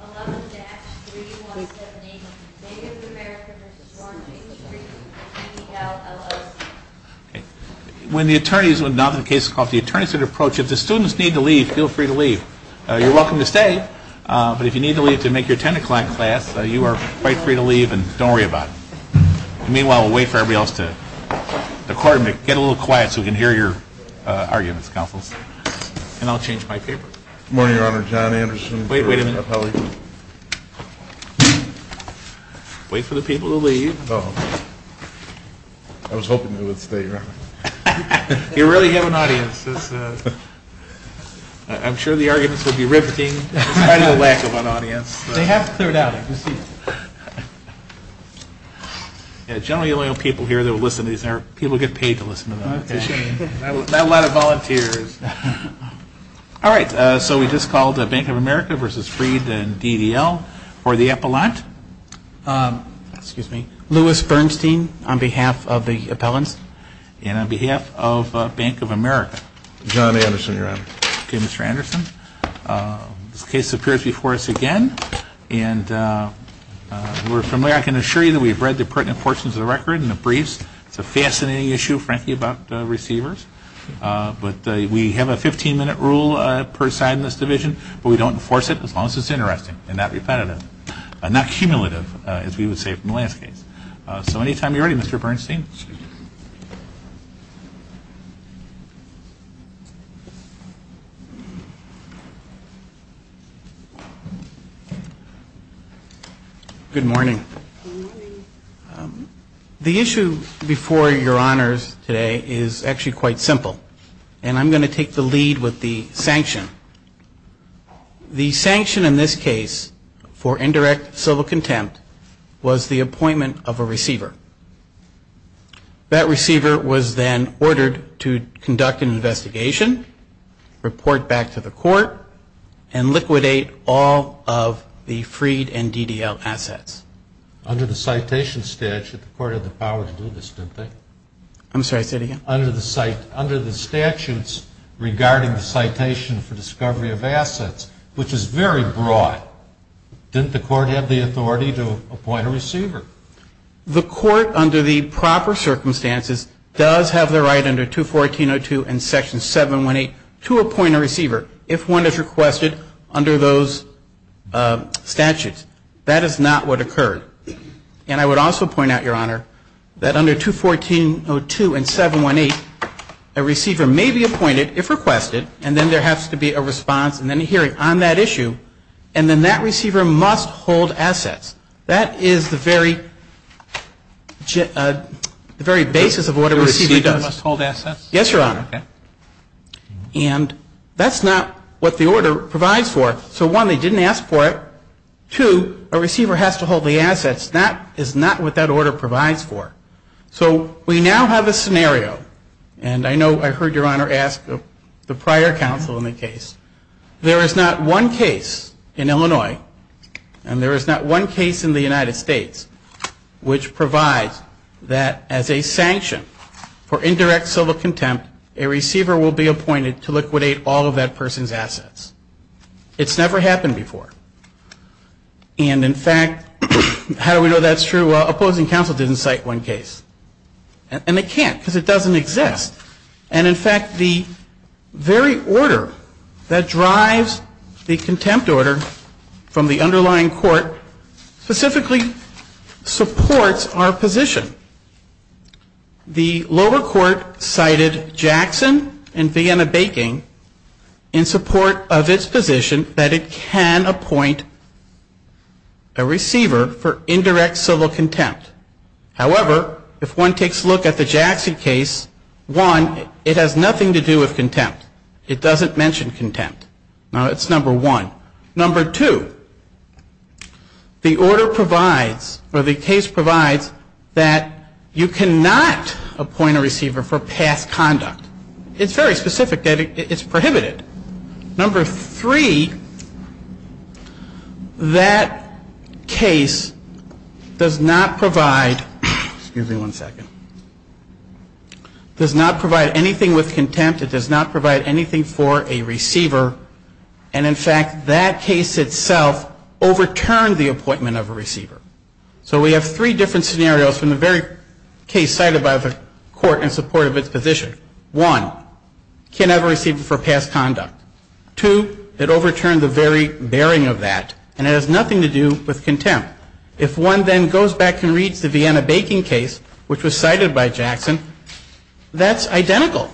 11-3178, Bank of America v. Laurance H. Freed and DDL LLC. When the attorneys, when the case is called for the attorneys to approach, if the students need to leave, feel free to leave. You're welcome to stay, but if you need to leave to make your ten o'clock class, you are quite free to leave and don't worry about it. Meanwhile, we'll wait for everybody else to get a little quiet so we can hear your arguments, counsels. And I'll change my paper. Good morning, Your Honor. John Anderson. Wait a minute. Wait for the people to leave. Oh. I was hoping they would stay, Your Honor. You really have an audience. I'm sure the arguments will be rifting in spite of the lack of an audience. They have cleared out. Generally, the only people here that will listen to these are people who get paid to listen to them. That's a shame. Not a lot of volunteers. All right. So we just called Bank of America v. Freed and DDL for the appellant. Excuse me. Louis Bernstein on behalf of the appellants and on behalf of Bank of America. John Anderson, Your Honor. Okay, Mr. Anderson. This case appears before us again, and we're familiar. I can assure you that we've read the pertinent portions of the record and the briefs. It's a fascinating issue, frankly, about receivers. But we have a 15-minute rule per side in this division, but we don't enforce it as long as it's interesting and not repetitive, not cumulative, as we would say from the last case. So anytime you're ready, Mr. Bernstein. Good morning. Good morning. The issue before Your Honors today is actually quite simple, and I'm going to take the lead with the sanction. The sanction in this case for indirect civil contempt was the appointment of a receiver. That receiver was then ordered to conduct an investigation, report back to the court, and liquidate all of the Freed and DDL assets. Under the citation statute, the court had the power to do this, didn't they? I'm sorry, say it again. Under the statutes regarding the citation for discovery of assets, which is very broad, didn't the court have the authority to appoint a receiver? The court, under the proper circumstances, does have the right under 214.02 and Section 718 to appoint a receiver if one is requested under those statutes. That is not what occurred. And I would also point out, Your Honor, that under 214.02 and 718, a receiver may be appointed if requested, and then there has to be a response and then a hearing on that issue, and then that receiver must hold assets. That is the very basis of what a receiver does. The receiver must hold assets? Yes, Your Honor. Okay. And that's not what the order provides for. So one, they didn't ask for it. Two, a receiver has to hold the assets. That is not what that order provides for. So we now have a scenario, and I know I heard Your Honor ask the prior counsel in the case. There is not one case in Illinois, and there is not one case in the United States, which provides that as a sanction for indirect civil contempt, It's never happened before. And, in fact, how do we know that's true? Well, opposing counsel didn't cite one case. And they can't because it doesn't exist. And, in fact, the very order that drives the contempt order from the underlying court specifically supports our position. The lower court cited Jackson and Vienna Baking in support of its position that it can appoint a receiver for indirect civil contempt. However, if one takes a look at the Jackson case, one, it has nothing to do with contempt. It doesn't mention contempt. Now, that's number one. Number two, the order provides, or the case provides, that you cannot appoint a receiver for past conduct. It's very specific. It's prohibited. Number three, that case does not provide anything with contempt. It does not provide anything for a receiver. And, in fact, that case itself overturned the appointment of a receiver. So we have three different scenarios from the very case cited by the court in support of its position. One, can't have a receiver for past conduct. Two, it overturned the very bearing of that. And it has nothing to do with contempt. If one then goes back and reads the Vienna Baking case, which was cited by Jackson, that's identical.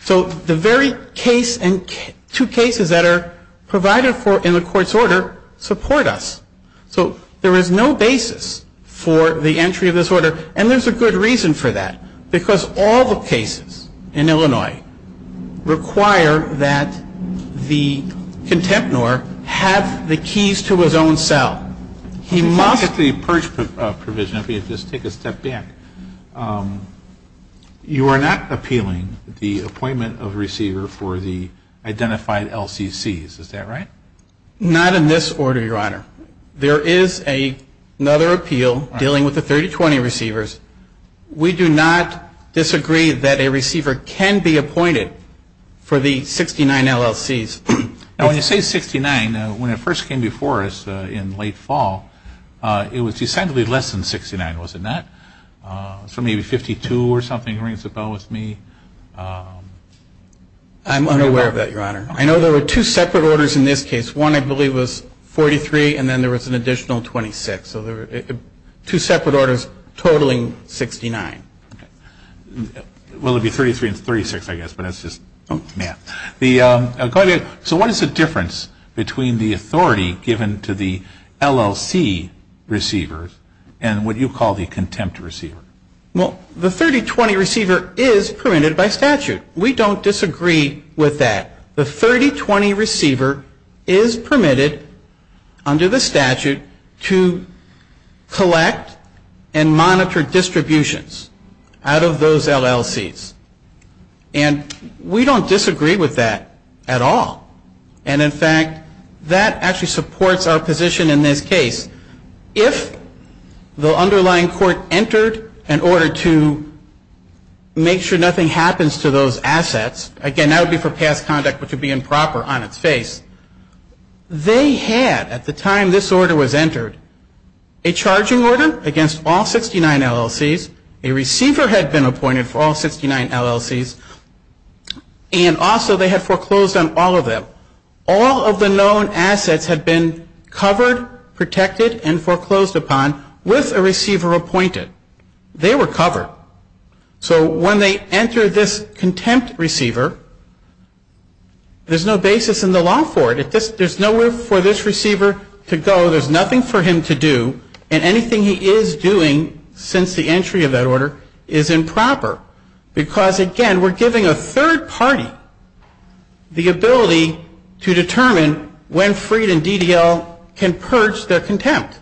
So the very case and two cases that are provided for in the court's order support us. So there is no basis for the entry of this order. And there's a good reason for that, because all the cases in Illinois require that the contempturer have the keys to his own cell. He must be. I'm going to go back to the purge provision. Let me just take a step back. You are not appealing the appointment of a receiver for the identified LCCs. Is that right? Not in this order, Your Honor. There is another appeal dealing with the 3020 receivers. We do not disagree that a receiver can be appointed for the 69 LLCs. Now, when you say 69, when it first came before us in late fall, it was decidedly less than 69, was it not? Maybe 52 or something rings a bell with me. I'm unaware of that, Your Honor. I know there were two separate orders in this case. One, I believe, was 43, and then there was an additional 26. So two separate orders totaling 69. Well, it would be 33 and 36, I guess, but that's just math. So what is the difference between the authority given to the LLC receivers and what you call the contempt receiver? Well, the 3020 receiver is permitted by statute. We don't disagree with that. The 3020 receiver is permitted under the statute to collect and monitor distributions out of those LLCs. And we don't disagree with that at all. And, in fact, that actually supports our position in this case. If the underlying court entered an order to make sure nothing happens to those assets, again, that would be for past conduct, which would be improper on its face. They had, at the time this order was entered, a charging order against all 69 LLCs. A receiver had been appointed for all 69 LLCs. And, also, they had foreclosed on all of them. All of the known assets had been covered, protected, and foreclosed upon with a receiver appointed. They were covered. So when they entered this contempt receiver, there's no basis in the law for it. There's nowhere for this receiver to go. So there's nothing for him to do. And anything he is doing since the entry of that order is improper. Because, again, we're giving a third party the ability to determine when Freed and DDL can purge their contempt.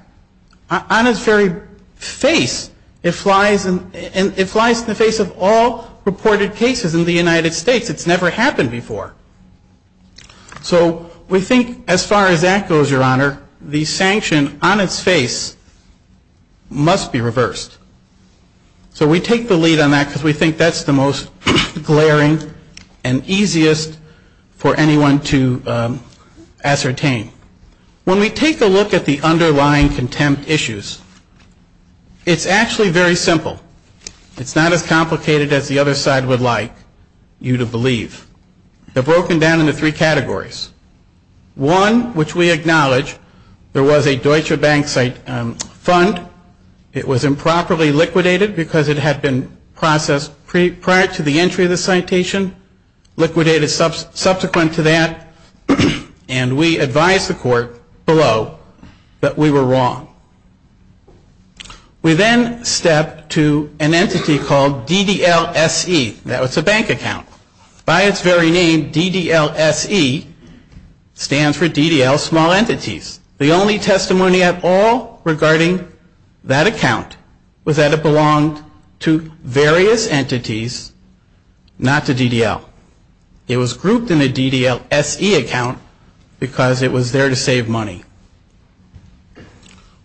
On its very face, it flies in the face of all reported cases in the United States. It's never happened before. So we think as far as that goes, Your Honor, the sanction on its face must be reversed. So we take the lead on that because we think that's the most glaring and easiest for anyone to ascertain. When we take a look at the underlying contempt issues, it's actually very simple. It's not as complicated as the other side would like you to believe. They're broken down into three categories. One, which we acknowledge, there was a Deutsche Bank fund. It was improperly liquidated because it had been processed prior to the entry of the citation, liquidated subsequent to that, and we advised the court below that we were wrong. We then step to an entity called DDL-SE. Now, it's a bank account. By its very name, DDL-SE stands for DDL Small Entities. The only testimony at all regarding that account was that it belonged to various entities, not to DDL. It was grouped in a DDL-SE account because it was there to save money.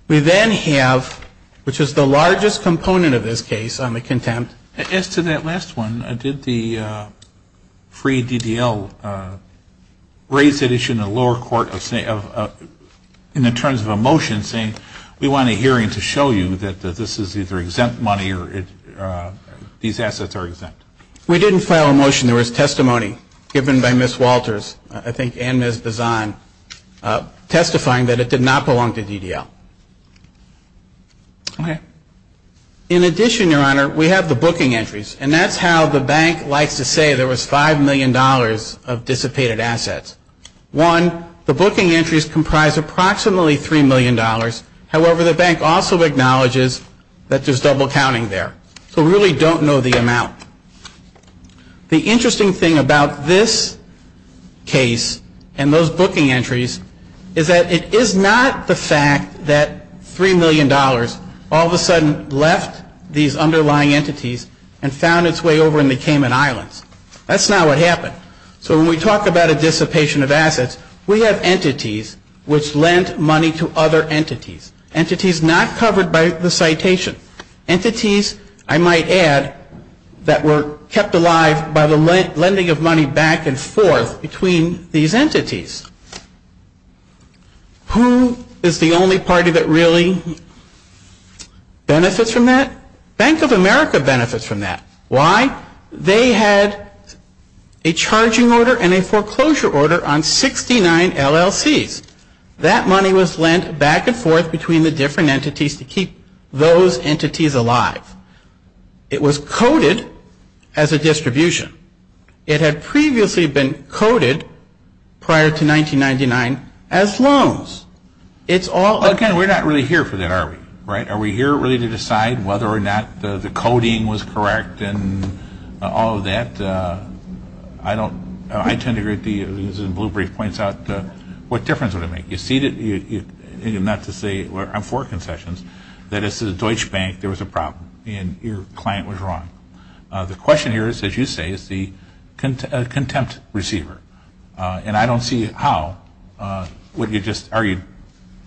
We then have, which is the largest component of this case on the contempt. As to that last one, did the free DDL raise that issue in the lower court in terms of a motion saying, we want a hearing to show you that this is either exempt money or these assets are exempt? We didn't file a motion. There was testimony given by Ms. Walters, I think, and Ms. Bazan, testifying that it did not belong to DDL. Okay. In addition, Your Honor, we have the booking entries, and that's how the bank likes to say there was $5 million of dissipated assets. One, the booking entries comprise approximately $3 million. However, the bank also acknowledges that there's double counting there. So we really don't know the amount. The interesting thing about this case and those booking entries is that it is not the fact that $3 million all of a sudden left these underlying entities and found its way over in the Cayman Islands. That's not what happened. So when we talk about a dissipation of assets, we have entities which lent money to other entities, entities not covered by the citation, entities, I might add, that were kept alive by the lending of money back and forth between these entities. Who is the only party that really benefits from that? Bank of America benefits from that. Why? They had a charging order and a foreclosure order on 69 LLCs. That money was lent back and forth between the different entities to keep those entities alive. It was coded as a distribution. It had previously been coded prior to 1999 as loans. Again, we're not really here for that, are we? Are we here really to decide whether or not the coding was correct and all of that? I tend to agree with you. As Blue Brief points out, what difference would it make? Not to say I'm for concessions. That as a Deutsche Bank, there was a problem and your client was wrong. The question here is, as you say, is the contempt receiver. And I don't see how. What you just argued,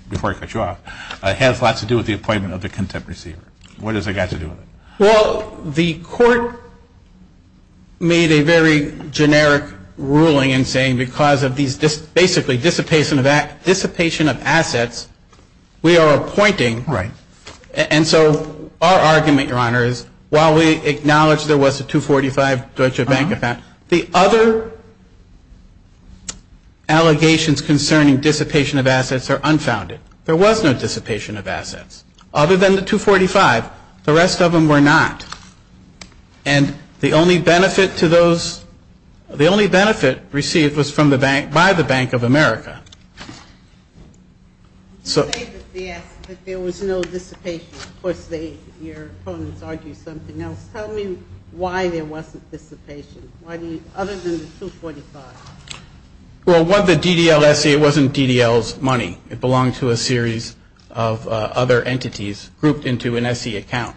before I cut you off, has lots to do with the appointment of the contempt receiver. What does it have to do with it? Well, the court made a very generic ruling in saying because of these basically dissipation of assets, we are appointing. Right. And so our argument, Your Honor, is while we acknowledge there was a 245 Deutsche Bank, the other allegations concerning dissipation of assets are unfounded. There was no dissipation of assets. Other than the 245, the rest of them were not. And the only benefit received was by the Bank of America. You say that there was no dissipation. Of course, your opponents argue something else. Tell me why there wasn't dissipation, other than the 245. Well, the DDLSA wasn't DDL's money. It belonged to a series of other entities grouped into an SE account.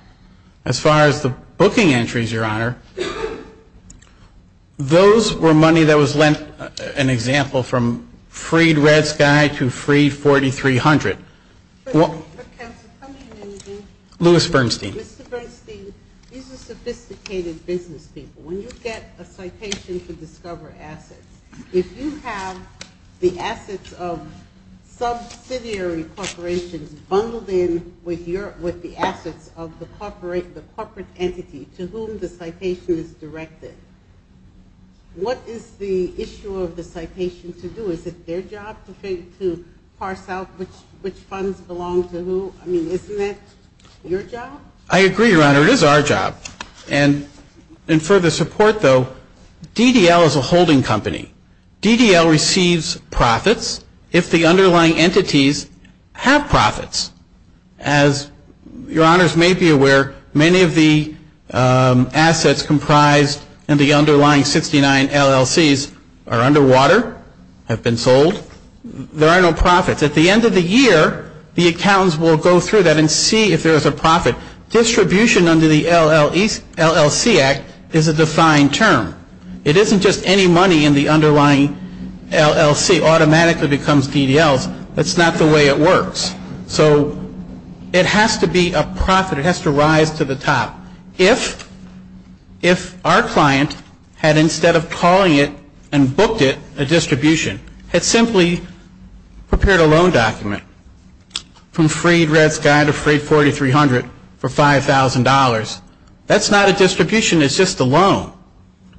As far as the booking entries, Your Honor, those were money that was lent, an example, from Freed Red Sky to Freed 4300. Lewis Bernstein. Mr. Bernstein, these are sophisticated business people. When you get a citation to discover assets, if you have the assets of subsidiary corporations bundled in with the assets of the corporate entity to whom the citation is directed, what is the issue of the citation to do? Is it their job to parse out which funds belong to who? I mean, isn't that your job? I agree, Your Honor. It is our job. And in further support, though, DDL is a holding company. DDL receives profits if the underlying entities have profits. As Your Honors may be aware, many of the assets comprised in the underlying 69 LLCs are underwater, have been sold. There are no profits. At the end of the year, the accountants will go through that and see if there is a profit. Distribution under the LLC Act is a defined term. It isn't just any money in the underlying LLC automatically becomes DDLs. That's not the way it works. So it has to be a profit. It has to rise to the top. If our client had, instead of calling it and booked it, a distribution, had simply prepared a loan document from Freed Red Sky to Freed 4300 for $5,000, that's not a distribution. It's just a loan.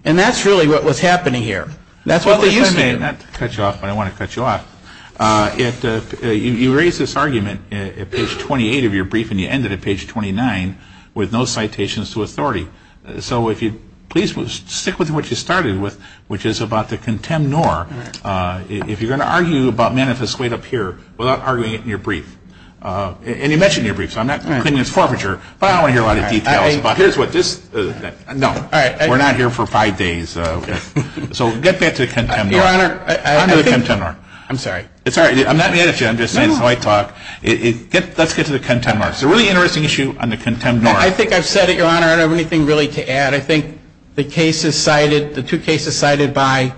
And that's really what was happening here. That's what they used to do. If I may, not to cut you off, but I want to cut you off, you raise this argument at page 28 of your brief and you end it at page 29 with no citations to authority. So if you'd please stick with what you started with, which is about the contemnor. If you're going to argue about manifest weight up here without arguing it in your brief, and you mentioned your brief, so I'm not concluding it's forfeiture, but I don't want to hear a lot of details. But here's what this, no, we're not here for five days. So get back to the contemnor. I'm sorry. It's all right. I'm not going to interrupt you. I'm just saying this is how I talk. Let's get to the contemnor. It's a really interesting issue on the contemnor. I think I've said it, Your Honor. I don't have anything really to add. I think the case is cited, the two cases cited by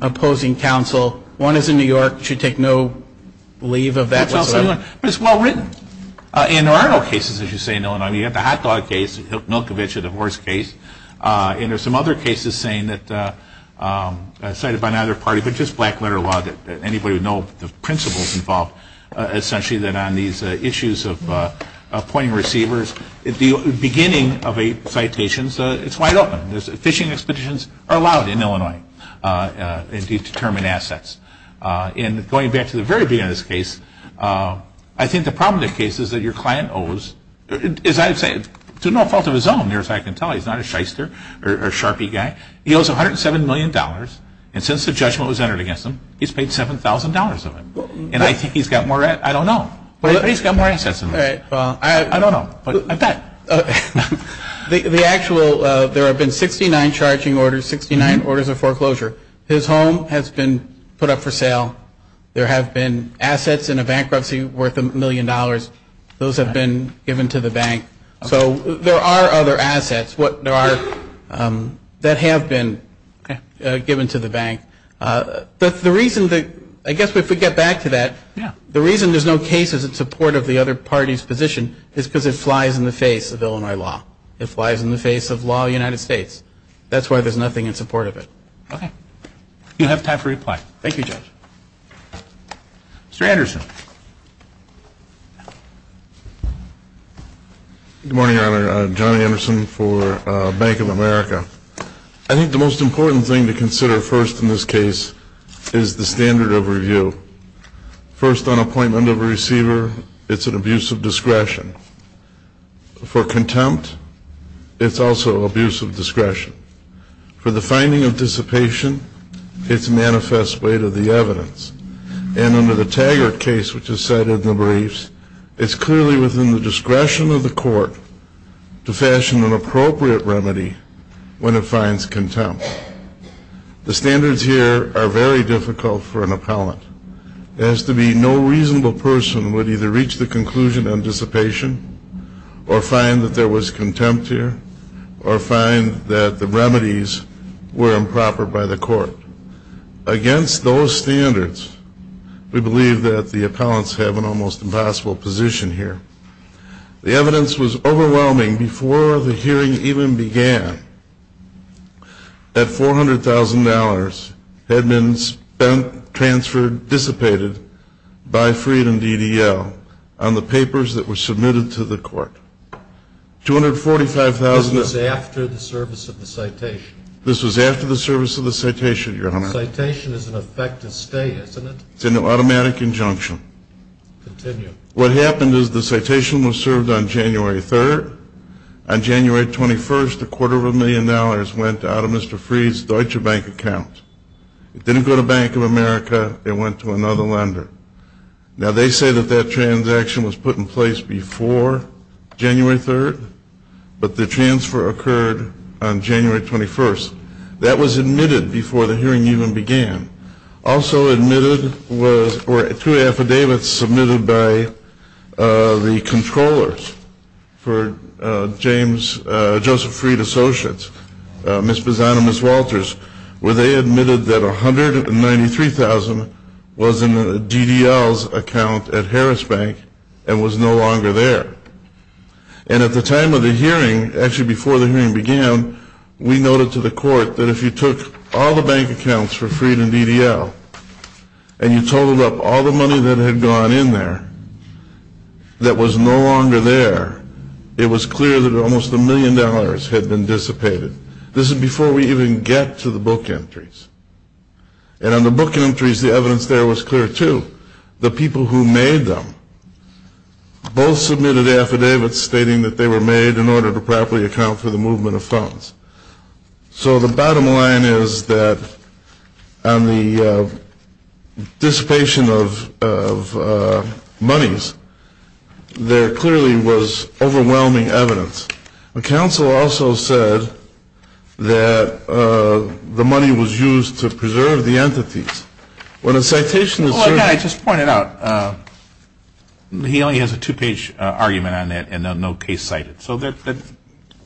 opposing counsel. One is in New York. It should take no leave of that. But it's well written. And there are no cases, as you say, in Illinois. You have the hot dog case, Milkovich, the divorce case. And there are some other cases cited by neither party, but just black letter law, that anybody would know the principles involved, essentially, that on these issues of appointing receivers, the beginning of a citation, it's wide open. Fishing expeditions are allowed in Illinois. They determine assets. And going back to the very beginning of this case, I think the problem with the case is that your client owes, as I've said, to no fault of his own, as far as I can tell. He's not a shyster or a sharpie guy. He owes $107 million. And since the judgment was entered against him, he's paid $7,000 of it. And I think he's got more, I don't know. I think he's got more assets than me. I don't know. The actual, there have been 69 charging orders, 69 orders of foreclosure. His home has been put up for sale. There have been assets in a bankruptcy worth a million dollars. Those have been given to the bank. So there are other assets that have been given to the bank. But the reason, I guess if we get back to that, the reason there's no cases in support of the other party's position is because it flies in the face of Illinois law. It flies in the face of law of the United States. That's why there's nothing in support of it. You have time for reply. Thank you, Judge. Mr. Anderson. Good morning, Your Honor. John Anderson for Bank of America. I think the most important thing to consider first in this case is the standard of review. First, on appointment of a receiver, it's an abuse of discretion. For contempt, it's also abuse of discretion. For the finding of dissipation, it's a manifest way to the evidence. And under the Taggart case, which is cited in the briefs, it's clearly within the discretion of the court to fashion an appropriate remedy when it finds contempt. The standards here are very difficult for an appellant. It has to be no reasonable person would either reach the conclusion on dissipation or find that there was contempt here or find that the remedies were improper by the court. Against those standards, we believe that the appellants have an almost impossible position here. The evidence was overwhelming before the hearing even began that $400,000 had been spent, transferred, dissipated by Freedom DDL on the papers that were submitted to the court. $245,000. This was after the service of the citation. This was after the service of the citation, Your Honor. Citation is an effective stay, isn't it? It's an automatic injunction. Continue. What happened is the citation was served on January 3rd. On January 21st, a quarter of a million dollars went out of Mr. Freed's Deutsche Bank account. It didn't go to Bank of America. It went to another lender. Now, they say that that transaction was put in place before January 3rd, but the transfer occurred on January 21st. That was admitted before the hearing even began. Also admitted were two affidavits submitted by the controllers for Joseph Freed Associates, Ms. Bazan and Ms. Walters, where they admitted that $193,000 was in DDL's account at Harris Bank and was no longer there. And at the time of the hearing, actually before the hearing began, we noted to the court that if you took all the bank accounts for Freed and DDL and you totaled up all the money that had gone in there that was no longer there, it was clear that almost a million dollars had been dissipated. This is before we even get to the book entries. And on the book entries, the evidence there was clear, too. The people who made them both submitted affidavits stating that they were made in order to properly account for the movement of funds. So the bottom line is that on the dissipation of monies, there clearly was overwhelming evidence. The counsel also said that the money was used to preserve the entities. When a citation is served... Well, again, I just pointed out, he only has a two-page argument on that and no case cited.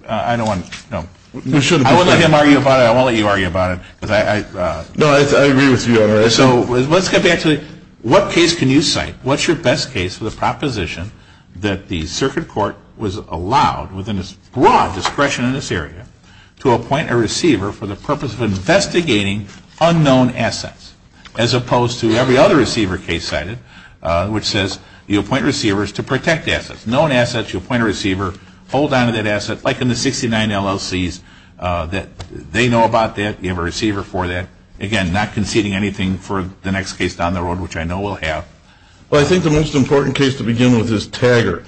I don't want to... I won't let him argue about it. I won't let you argue about it. No, I agree with you, Your Honor. So let's get back to what case can you cite? What's your best case for the proposition that the circuit court was allowed, within its broad discretion in this area, to appoint a receiver for the purpose of investigating unknown assets, as opposed to every other receiver case cited, which says you appoint receivers to protect assets. Known assets, you appoint a receiver, hold on to that asset. Like in the 69 LLCs, they know about that, you have a receiver for that. Again, not conceding anything for the next case down the road, which I know we'll have. Well, I think the most important case to begin with is Taggart.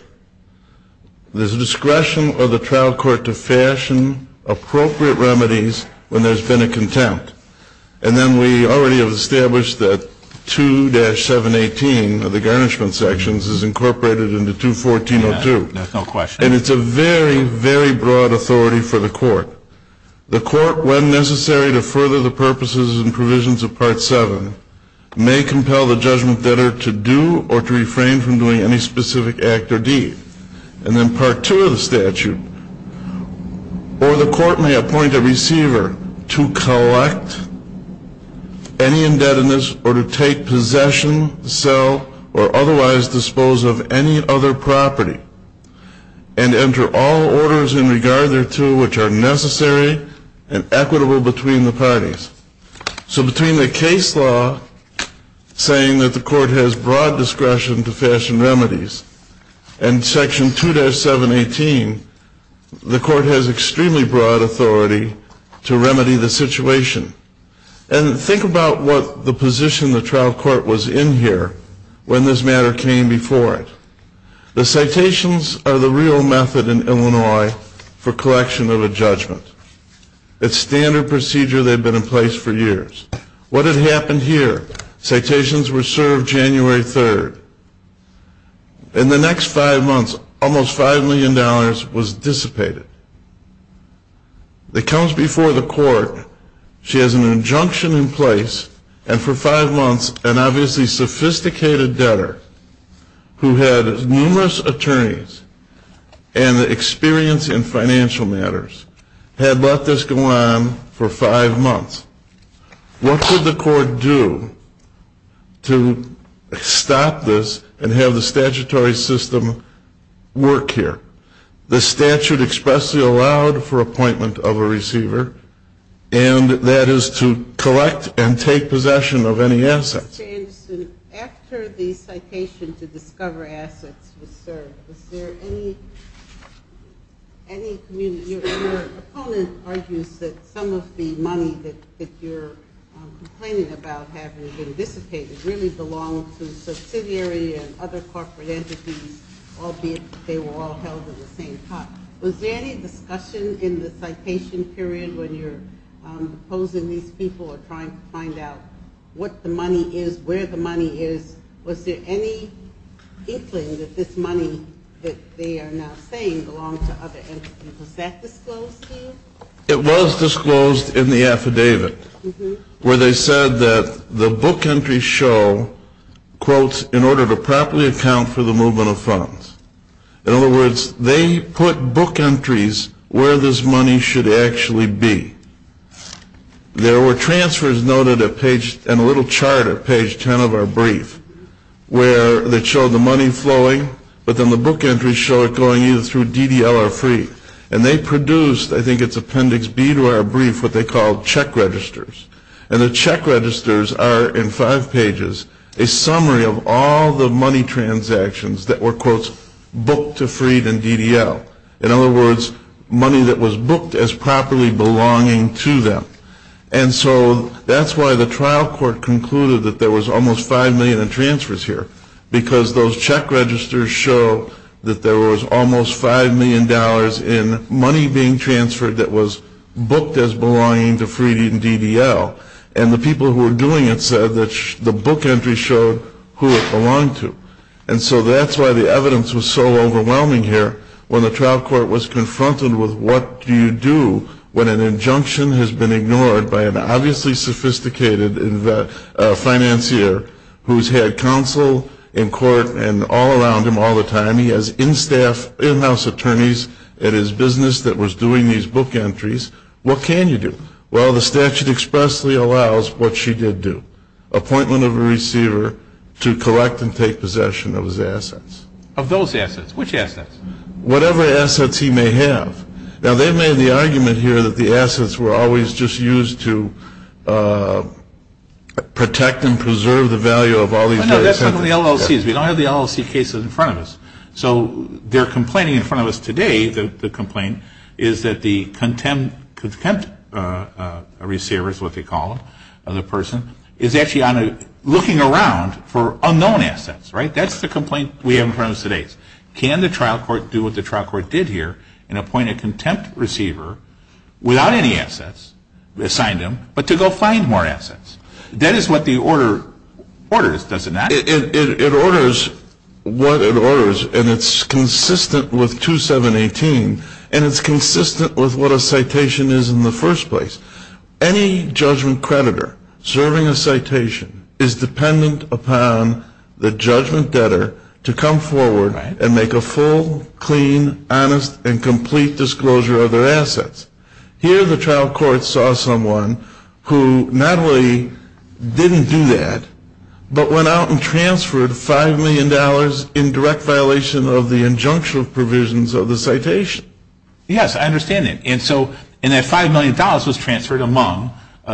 There's a discretion of the trial court to fashion appropriate remedies when there's been a contempt. And then we already have established that 2-718 of the garnishment sections is incorporated into 214-02. There's no question. And it's a very, very broad authority for the court. The court, when necessary to further the purposes and provisions of Part 7, may compel the judgment debtor to do or to refrain from doing any specific act or deed. And then Part 2 of the statute, or the court may appoint a receiver to collect any indebtedness or to take possession, sell, or otherwise dispose of any other property and enter all orders in regard thereto which are necessary and equitable between the parties. So between the case law saying that the court has broad discretion to fashion remedies and Section 2-718, the court has extremely broad authority to remedy the situation. And think about what the position the trial court was in here when this matter came before it. The citations are the real method in Illinois for collection of a judgment. It's standard procedure. They've been in place for years. What had happened here? Citations were served January 3rd. In the next five months, almost $5 million was dissipated. It comes before the court. She has an injunction in place. And for five months, an obviously sophisticated debtor who had numerous attorneys and experience in financial matters had let this go on for five months. What could the court do to stop this and have the statutory system work here? The statute expressly allowed for appointment of a receiver, and that is to collect and take possession of any assets. Mr. Anderson, after the citation to discover assets was served, your opponent argues that some of the money that you're complaining about having been dissipated really belonged to subsidiary and other corporate entities, albeit they were all held at the same time. Was there any discussion in the citation period when you're opposing these people or trying to find out what the money is, where the money is? Was there any inkling that this money that they are now saying belonged to other entities? Was that disclosed to you? It was disclosed in the affidavit where they said that the book entries show, quote, in order to properly account for the movement of funds. In other words, they put book entries where this money should actually be. There were transfers noted in a little charter, page 10 of our brief, where they showed the money flowing, but then the book entries show it going either through DDL or free. And they produced, I think it's appendix B to our brief, what they called check registers. And the check registers are in five pages a summary of all the money transactions that were, quote, booked to free and DDL. In other words, money that was booked as properly belonging to them. And so that's why the trial court concluded that there was almost $5 million in transfers here, because those check registers show that there was almost $5 million in money being transferred that was booked as belonging to free and DDL. And the people who were doing it said that the book entries showed who it belonged to. And so that's why the evidence was so overwhelming here. When the trial court was confronted with what do you do when an injunction has been ignored by an obviously sophisticated financier who's had counsel in court and all around him all the time. He has in-staff, in-house attorneys at his business that was doing these book entries. What can you do? Well, the statute expressly allows what she did do. Appointment of a receiver to collect and take possession of his assets. Of those assets? Which assets? Whatever assets he may have. Now, they made the argument here that the assets were always just used to protect and preserve the value of all these assets. No, that's not in the LLCs. We don't have the LLC cases in front of us. So they're complaining in front of us today, the complaint, is that the contempt receivers, what they call them, of the person, is actually looking around for unknown assets, right? That's the complaint we have in front of us today. Can the trial court do what the trial court did here and appoint a contempt receiver without any assets assigned to him but to go find more assets? That is what the order orders, does it not? It orders what it orders, and it's consistent with 2718, and it's consistent with what a citation is in the first place. Any judgment creditor serving a citation is dependent upon the judgment debtor to come forward and make a full, clean, honest, and complete disclosure of their assets. Here the trial court saw someone who not only didn't do that but went out and transferred $5 million in direct violation of the injunctive provisions of the citation. Yes, I understand that. And that $5 million was transferred among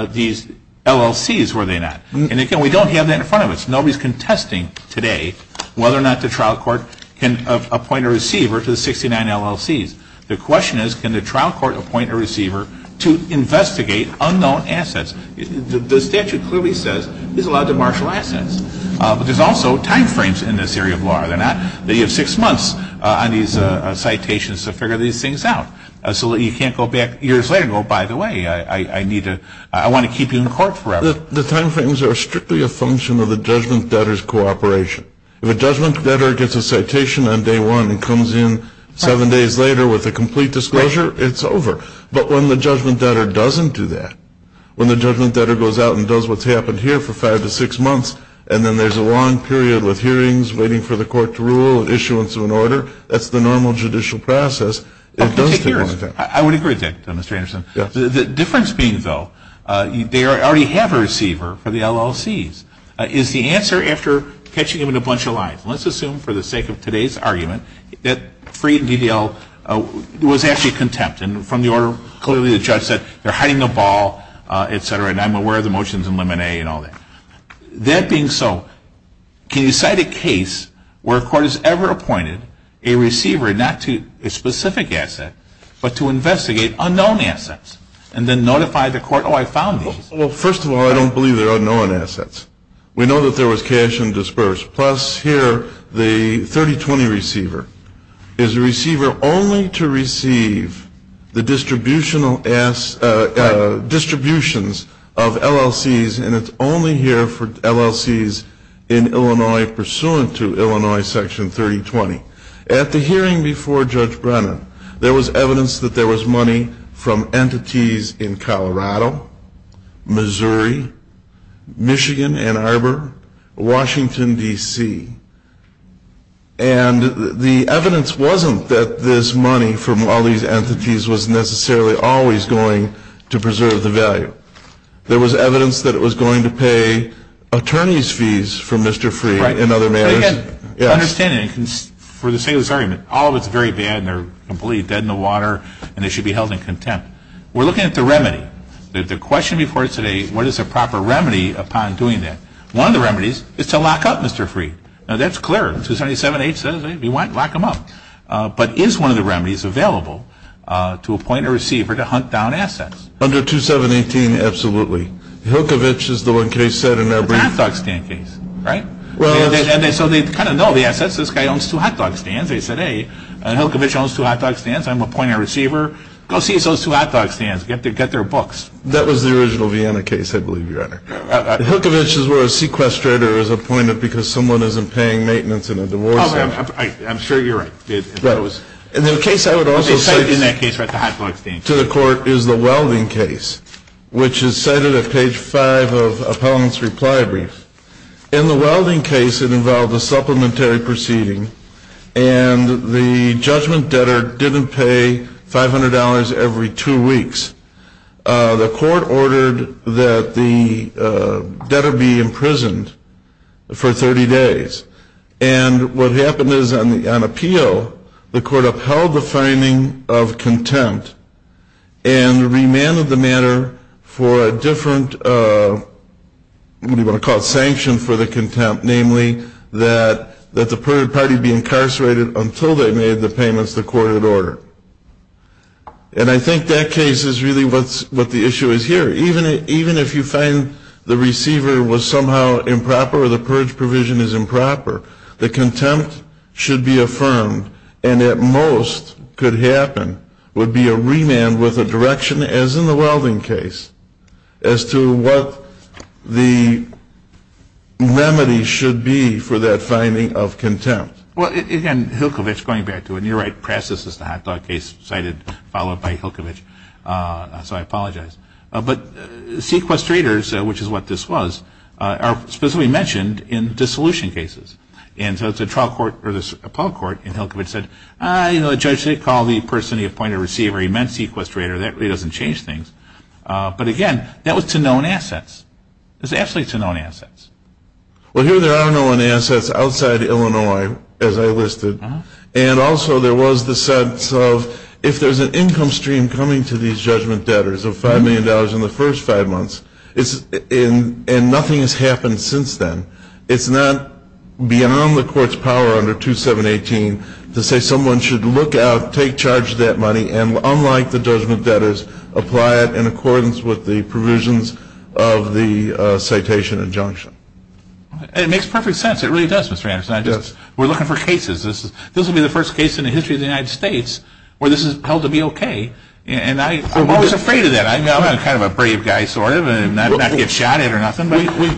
these LLCs, were they not? And again, we don't have that in front of us. Nobody is contesting today whether or not the trial court can appoint a receiver to the 69 LLCs. The question is, can the trial court appoint a receiver to investigate unknown assets? The statute clearly says he's allowed to marshal assets. But there's also timeframes in this area of law, are there not? You have six months on these citations to figure these things out. So you can't go back years later and go, by the way, I want to keep you in court forever. The timeframes are strictly a function of the judgment debtor's cooperation. If a judgment debtor gets a citation on day one and comes in seven days later with a complete disclosure, it's over. But when the judgment debtor doesn't do that, when the judgment debtor goes out and does what's happened here for five to six months and then there's a long period with hearings waiting for the court to rule and issuance of an order, that's the normal judicial process. I would agree with that, Mr. Anderson. The difference being, though, they already have a receiver for the LLCs, is the answer after catching them in a bunch of lies. Let's assume for the sake of today's argument that Freed and DDL was actually contempt. And from the order, clearly the judge said they're hiding a ball, et cetera, and I'm aware of the motions in limit A and all that. That being so, can you cite a case where a court has ever appointed a receiver not to a specific asset but to investigate unknown assets and then notify the court, oh, I found these? Well, first of all, I don't believe they're unknown assets. We know that there was cash and disperse. Plus here the 3020 receiver is a receiver only to receive the distributions of LLCs and it's only here for LLCs in Illinois pursuant to Illinois section 3020. At the hearing before Judge Brennan, there was evidence that there was money from entities in Colorado, Missouri, Michigan, Ann Arbor, Washington, D.C. And the evidence wasn't that this money from all these entities was necessarily always going to preserve the value. There was evidence that it was going to pay attorney's fees for Mr. Freed in other matters. Right. But again, understanding for the sake of this argument, all of it's very bad and they're completely dead in the water and they should be held in contempt. We're looking at the remedy. The question before us today, what is a proper remedy upon doing that? One of the remedies is to lock up Mr. Freed. Now, that's clear. 277-H says, hey, if you want, lock him up. But is one of the remedies available to appoint a receiver to hunt down assets? Under 2718, absolutely. Hilkovich is the one case set in every- It's a hot dog stand case, right? And so they kind of know the assets. This guy owns two hot dog stands. They said, hey, Hilkovich owns two hot dog stands. I'm appointing a receiver. Go see those two hot dog stands. Get their books. That was the original Vienna case, I believe, Your Honor. Hilkovich is where a sequestrator is appointed because someone isn't paying maintenance in a divorce. I'm sure you're right. Right. And the case I would also cite- Let me cite you in that case about the hot dog stand. To the court is the Welding case, which is cited at page 5 of Appellant's reply brief. In the Welding case, it involved a supplementary proceeding and the judgment debtor didn't pay $500 every two weeks. The court ordered that the debtor be imprisoned for 30 days. And what happened is on appeal, the court upheld the finding of contempt and remanded the matter for a different, what do you want to call it, sanction for the contempt, namely that the party be incarcerated until they made the payments the court had ordered. And I think that case is really what the issue is here. Even if you find the receiver was somehow improper or the purge provision is improper, the contempt should be affirmed and at most could happen would be a remand with a direction, as in the Welding case, as to what the remedy should be for that finding of contempt. Well, again, Hilkovich, going back to it, and you're right, Prastis is the hot dog case cited, followed by Hilkovich, so I apologize. But sequestrators, which is what this was, are specifically mentioned in dissolution cases. And so the trial court, or the appellate court in Hilkovich said, Judge, they called the person, the appointed receiver, he meant sequestrator. That really doesn't change things. But, again, that was to known assets. It was absolutely to known assets. Well, here there are known assets outside Illinois, as I listed. And also there was the sense of if there's an income stream coming to these judgment debtors of $5 million in the first five months, and nothing has happened since then, it's not beyond the court's power under 2718 to say someone should look out, take charge of that money, and unlike the judgment debtors, apply it in accordance with the provisions of the citation injunction. And it makes perfect sense. It really does, Mr. Anderson. We're looking for cases. This will be the first case in the history of the United States where this is held to be okay. And I'm always afraid of that. I'm kind of a brave guy, sort of, and not get shot at or nothing.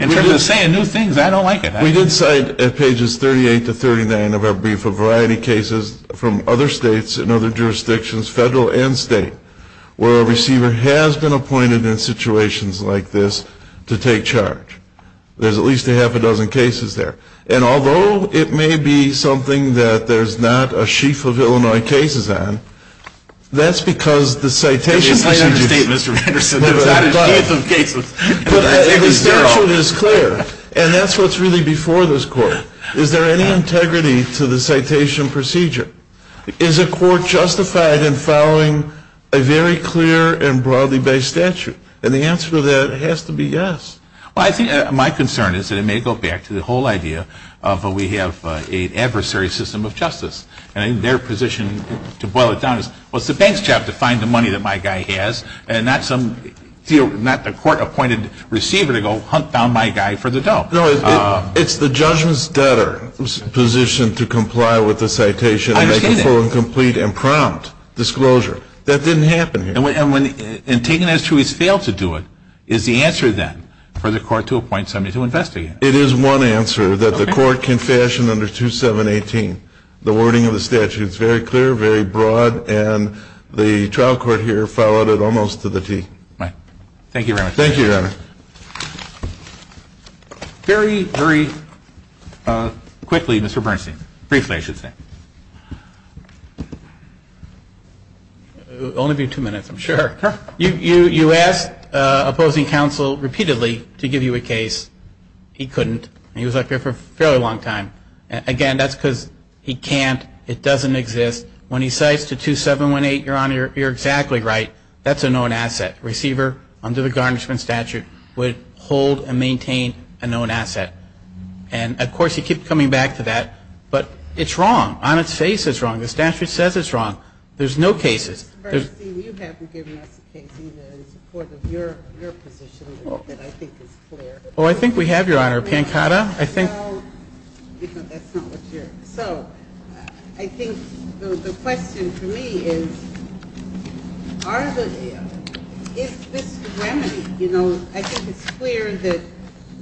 In terms of saying new things, I don't like it. We did cite at pages 38 to 39 of our brief a variety of cases from other states and other jurisdictions, federal and state, where a receiver has been appointed in situations like this to take charge. There's at least a half a dozen cases there. And although it may be something that there's not a sheaf of Illinois cases on, that's because the citation procedure. But the statute is clear, and that's what's really before this court. Is there any integrity to the citation procedure? Is a court justified in following a very clear and broadly based statute? And the answer to that has to be yes. Well, I think my concern is that it may go back to the whole idea of we have an adversary system of justice. And their position, to boil it down, is, well, it's the bank's job to find the money that my guy has and not the court-appointed receiver to go hunt down my guy for the dough. No, it's the judgment's debtor's position to comply with the citation and make a full and complete and prompt disclosure. That didn't happen here. And taken as true, he's failed to do it. Is the answer, then, for the court to appoint somebody to investigate? It is one answer that the court can fashion under 2718. The wording of the statute is very clear, very broad, and the trial court here followed it almost to the T. Thank you very much. Thank you, Your Honor. Very, very quickly, Mr. Bernstein, briefly, I should say. It will only be two minutes, I'm sure. You asked opposing counsel repeatedly to give you a case. He couldn't. He was out there for a fairly long time. Again, that's because he can't. It doesn't exist. When he cites to 2718, Your Honor, you're exactly right. That's a known asset. Receiver, under the garnishment statute, would hold and maintain a known asset. And, of course, he keeps coming back to that. But it's wrong. On its face, it's wrong. The statute says it's wrong. There's no cases. Mr. Bernstein, you haven't given us a case either in support of your position that I think is clear. Oh, I think we have, Your Honor. Pancotta, I think. No, that's not what's here. So I think the question for me is, is this the remedy? You know, I think it's clear that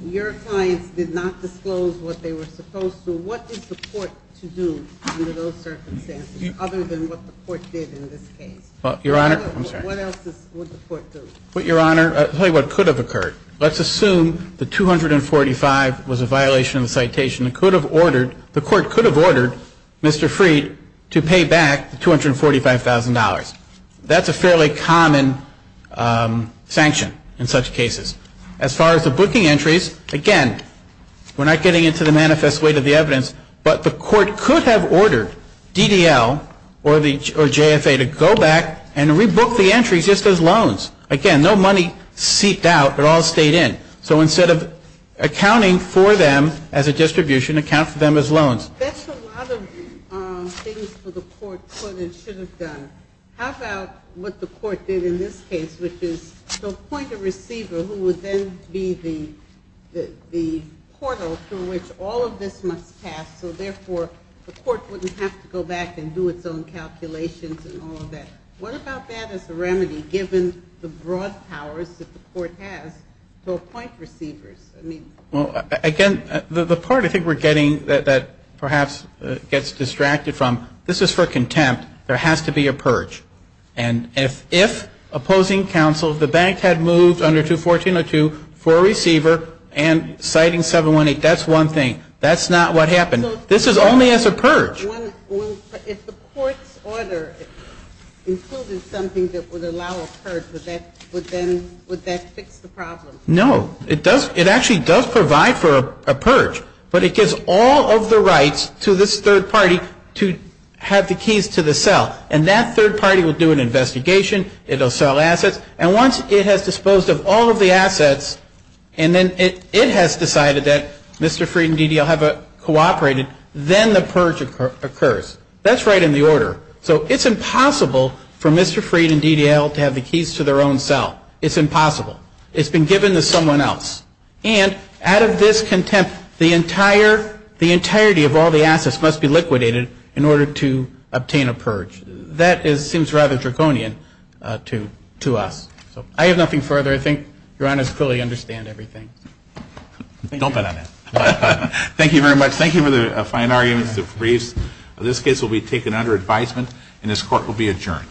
your clients did not disclose what they were supposed to. What is the court to do under those circumstances, other than what the court did in this case? Your Honor, I'm sorry. What else would the court do? Well, Your Honor, I'll tell you what could have occurred. Let's assume that 245 was a violation of the citation. The court could have ordered Mr. Freed to pay back the $245,000. That's a fairly common sanction in such cases. As far as the booking entries, again, we're not getting into the manifest weight of the evidence, but the court could have ordered DDL or JFA to go back and rebook the entries just as loans. Again, no money seeped out. It all stayed in. So instead of accounting for them as a distribution, account for them as loans. That's a lot of things for the court could and should have done. How about what the court did in this case, which is to appoint a receiver who would then be the portal through which all of this must pass so, therefore, the court wouldn't have to go back and do its own calculations and all of that. What about that as a remedy given the broad powers that the court has to appoint receivers? Well, again, the part I think we're getting that perhaps gets distracted from, this is for contempt. There has to be a purge. And if opposing counsel, the bank had moved under 214.02 for a receiver and citing 718, that's one thing. That's not what happened. This is only as a purge. If the court's order included something that would allow a purge, would that fix the problem? No. It actually does provide for a purge. But it gives all of the rights to this third party to have the keys to the cell. And that third party will do an investigation. It will sell assets. And once it has disposed of all of the assets and then it has decided that Mr. Freed and DDL have cooperated, then the purge occurs. That's right in the order. So it's impossible for Mr. Freed and DDL to have the keys to their own cell. It's impossible. It's been given to someone else. And out of this contempt, the entirety of all the assets must be liquidated in order to obtain a purge. That seems rather draconian to us. So I have nothing further. I think Your Honors fully understand everything. Don't bet on that. Thank you very much. Thank you for the fine arguments, the briefs. This case will be taken under advisement and this court will be adjourned.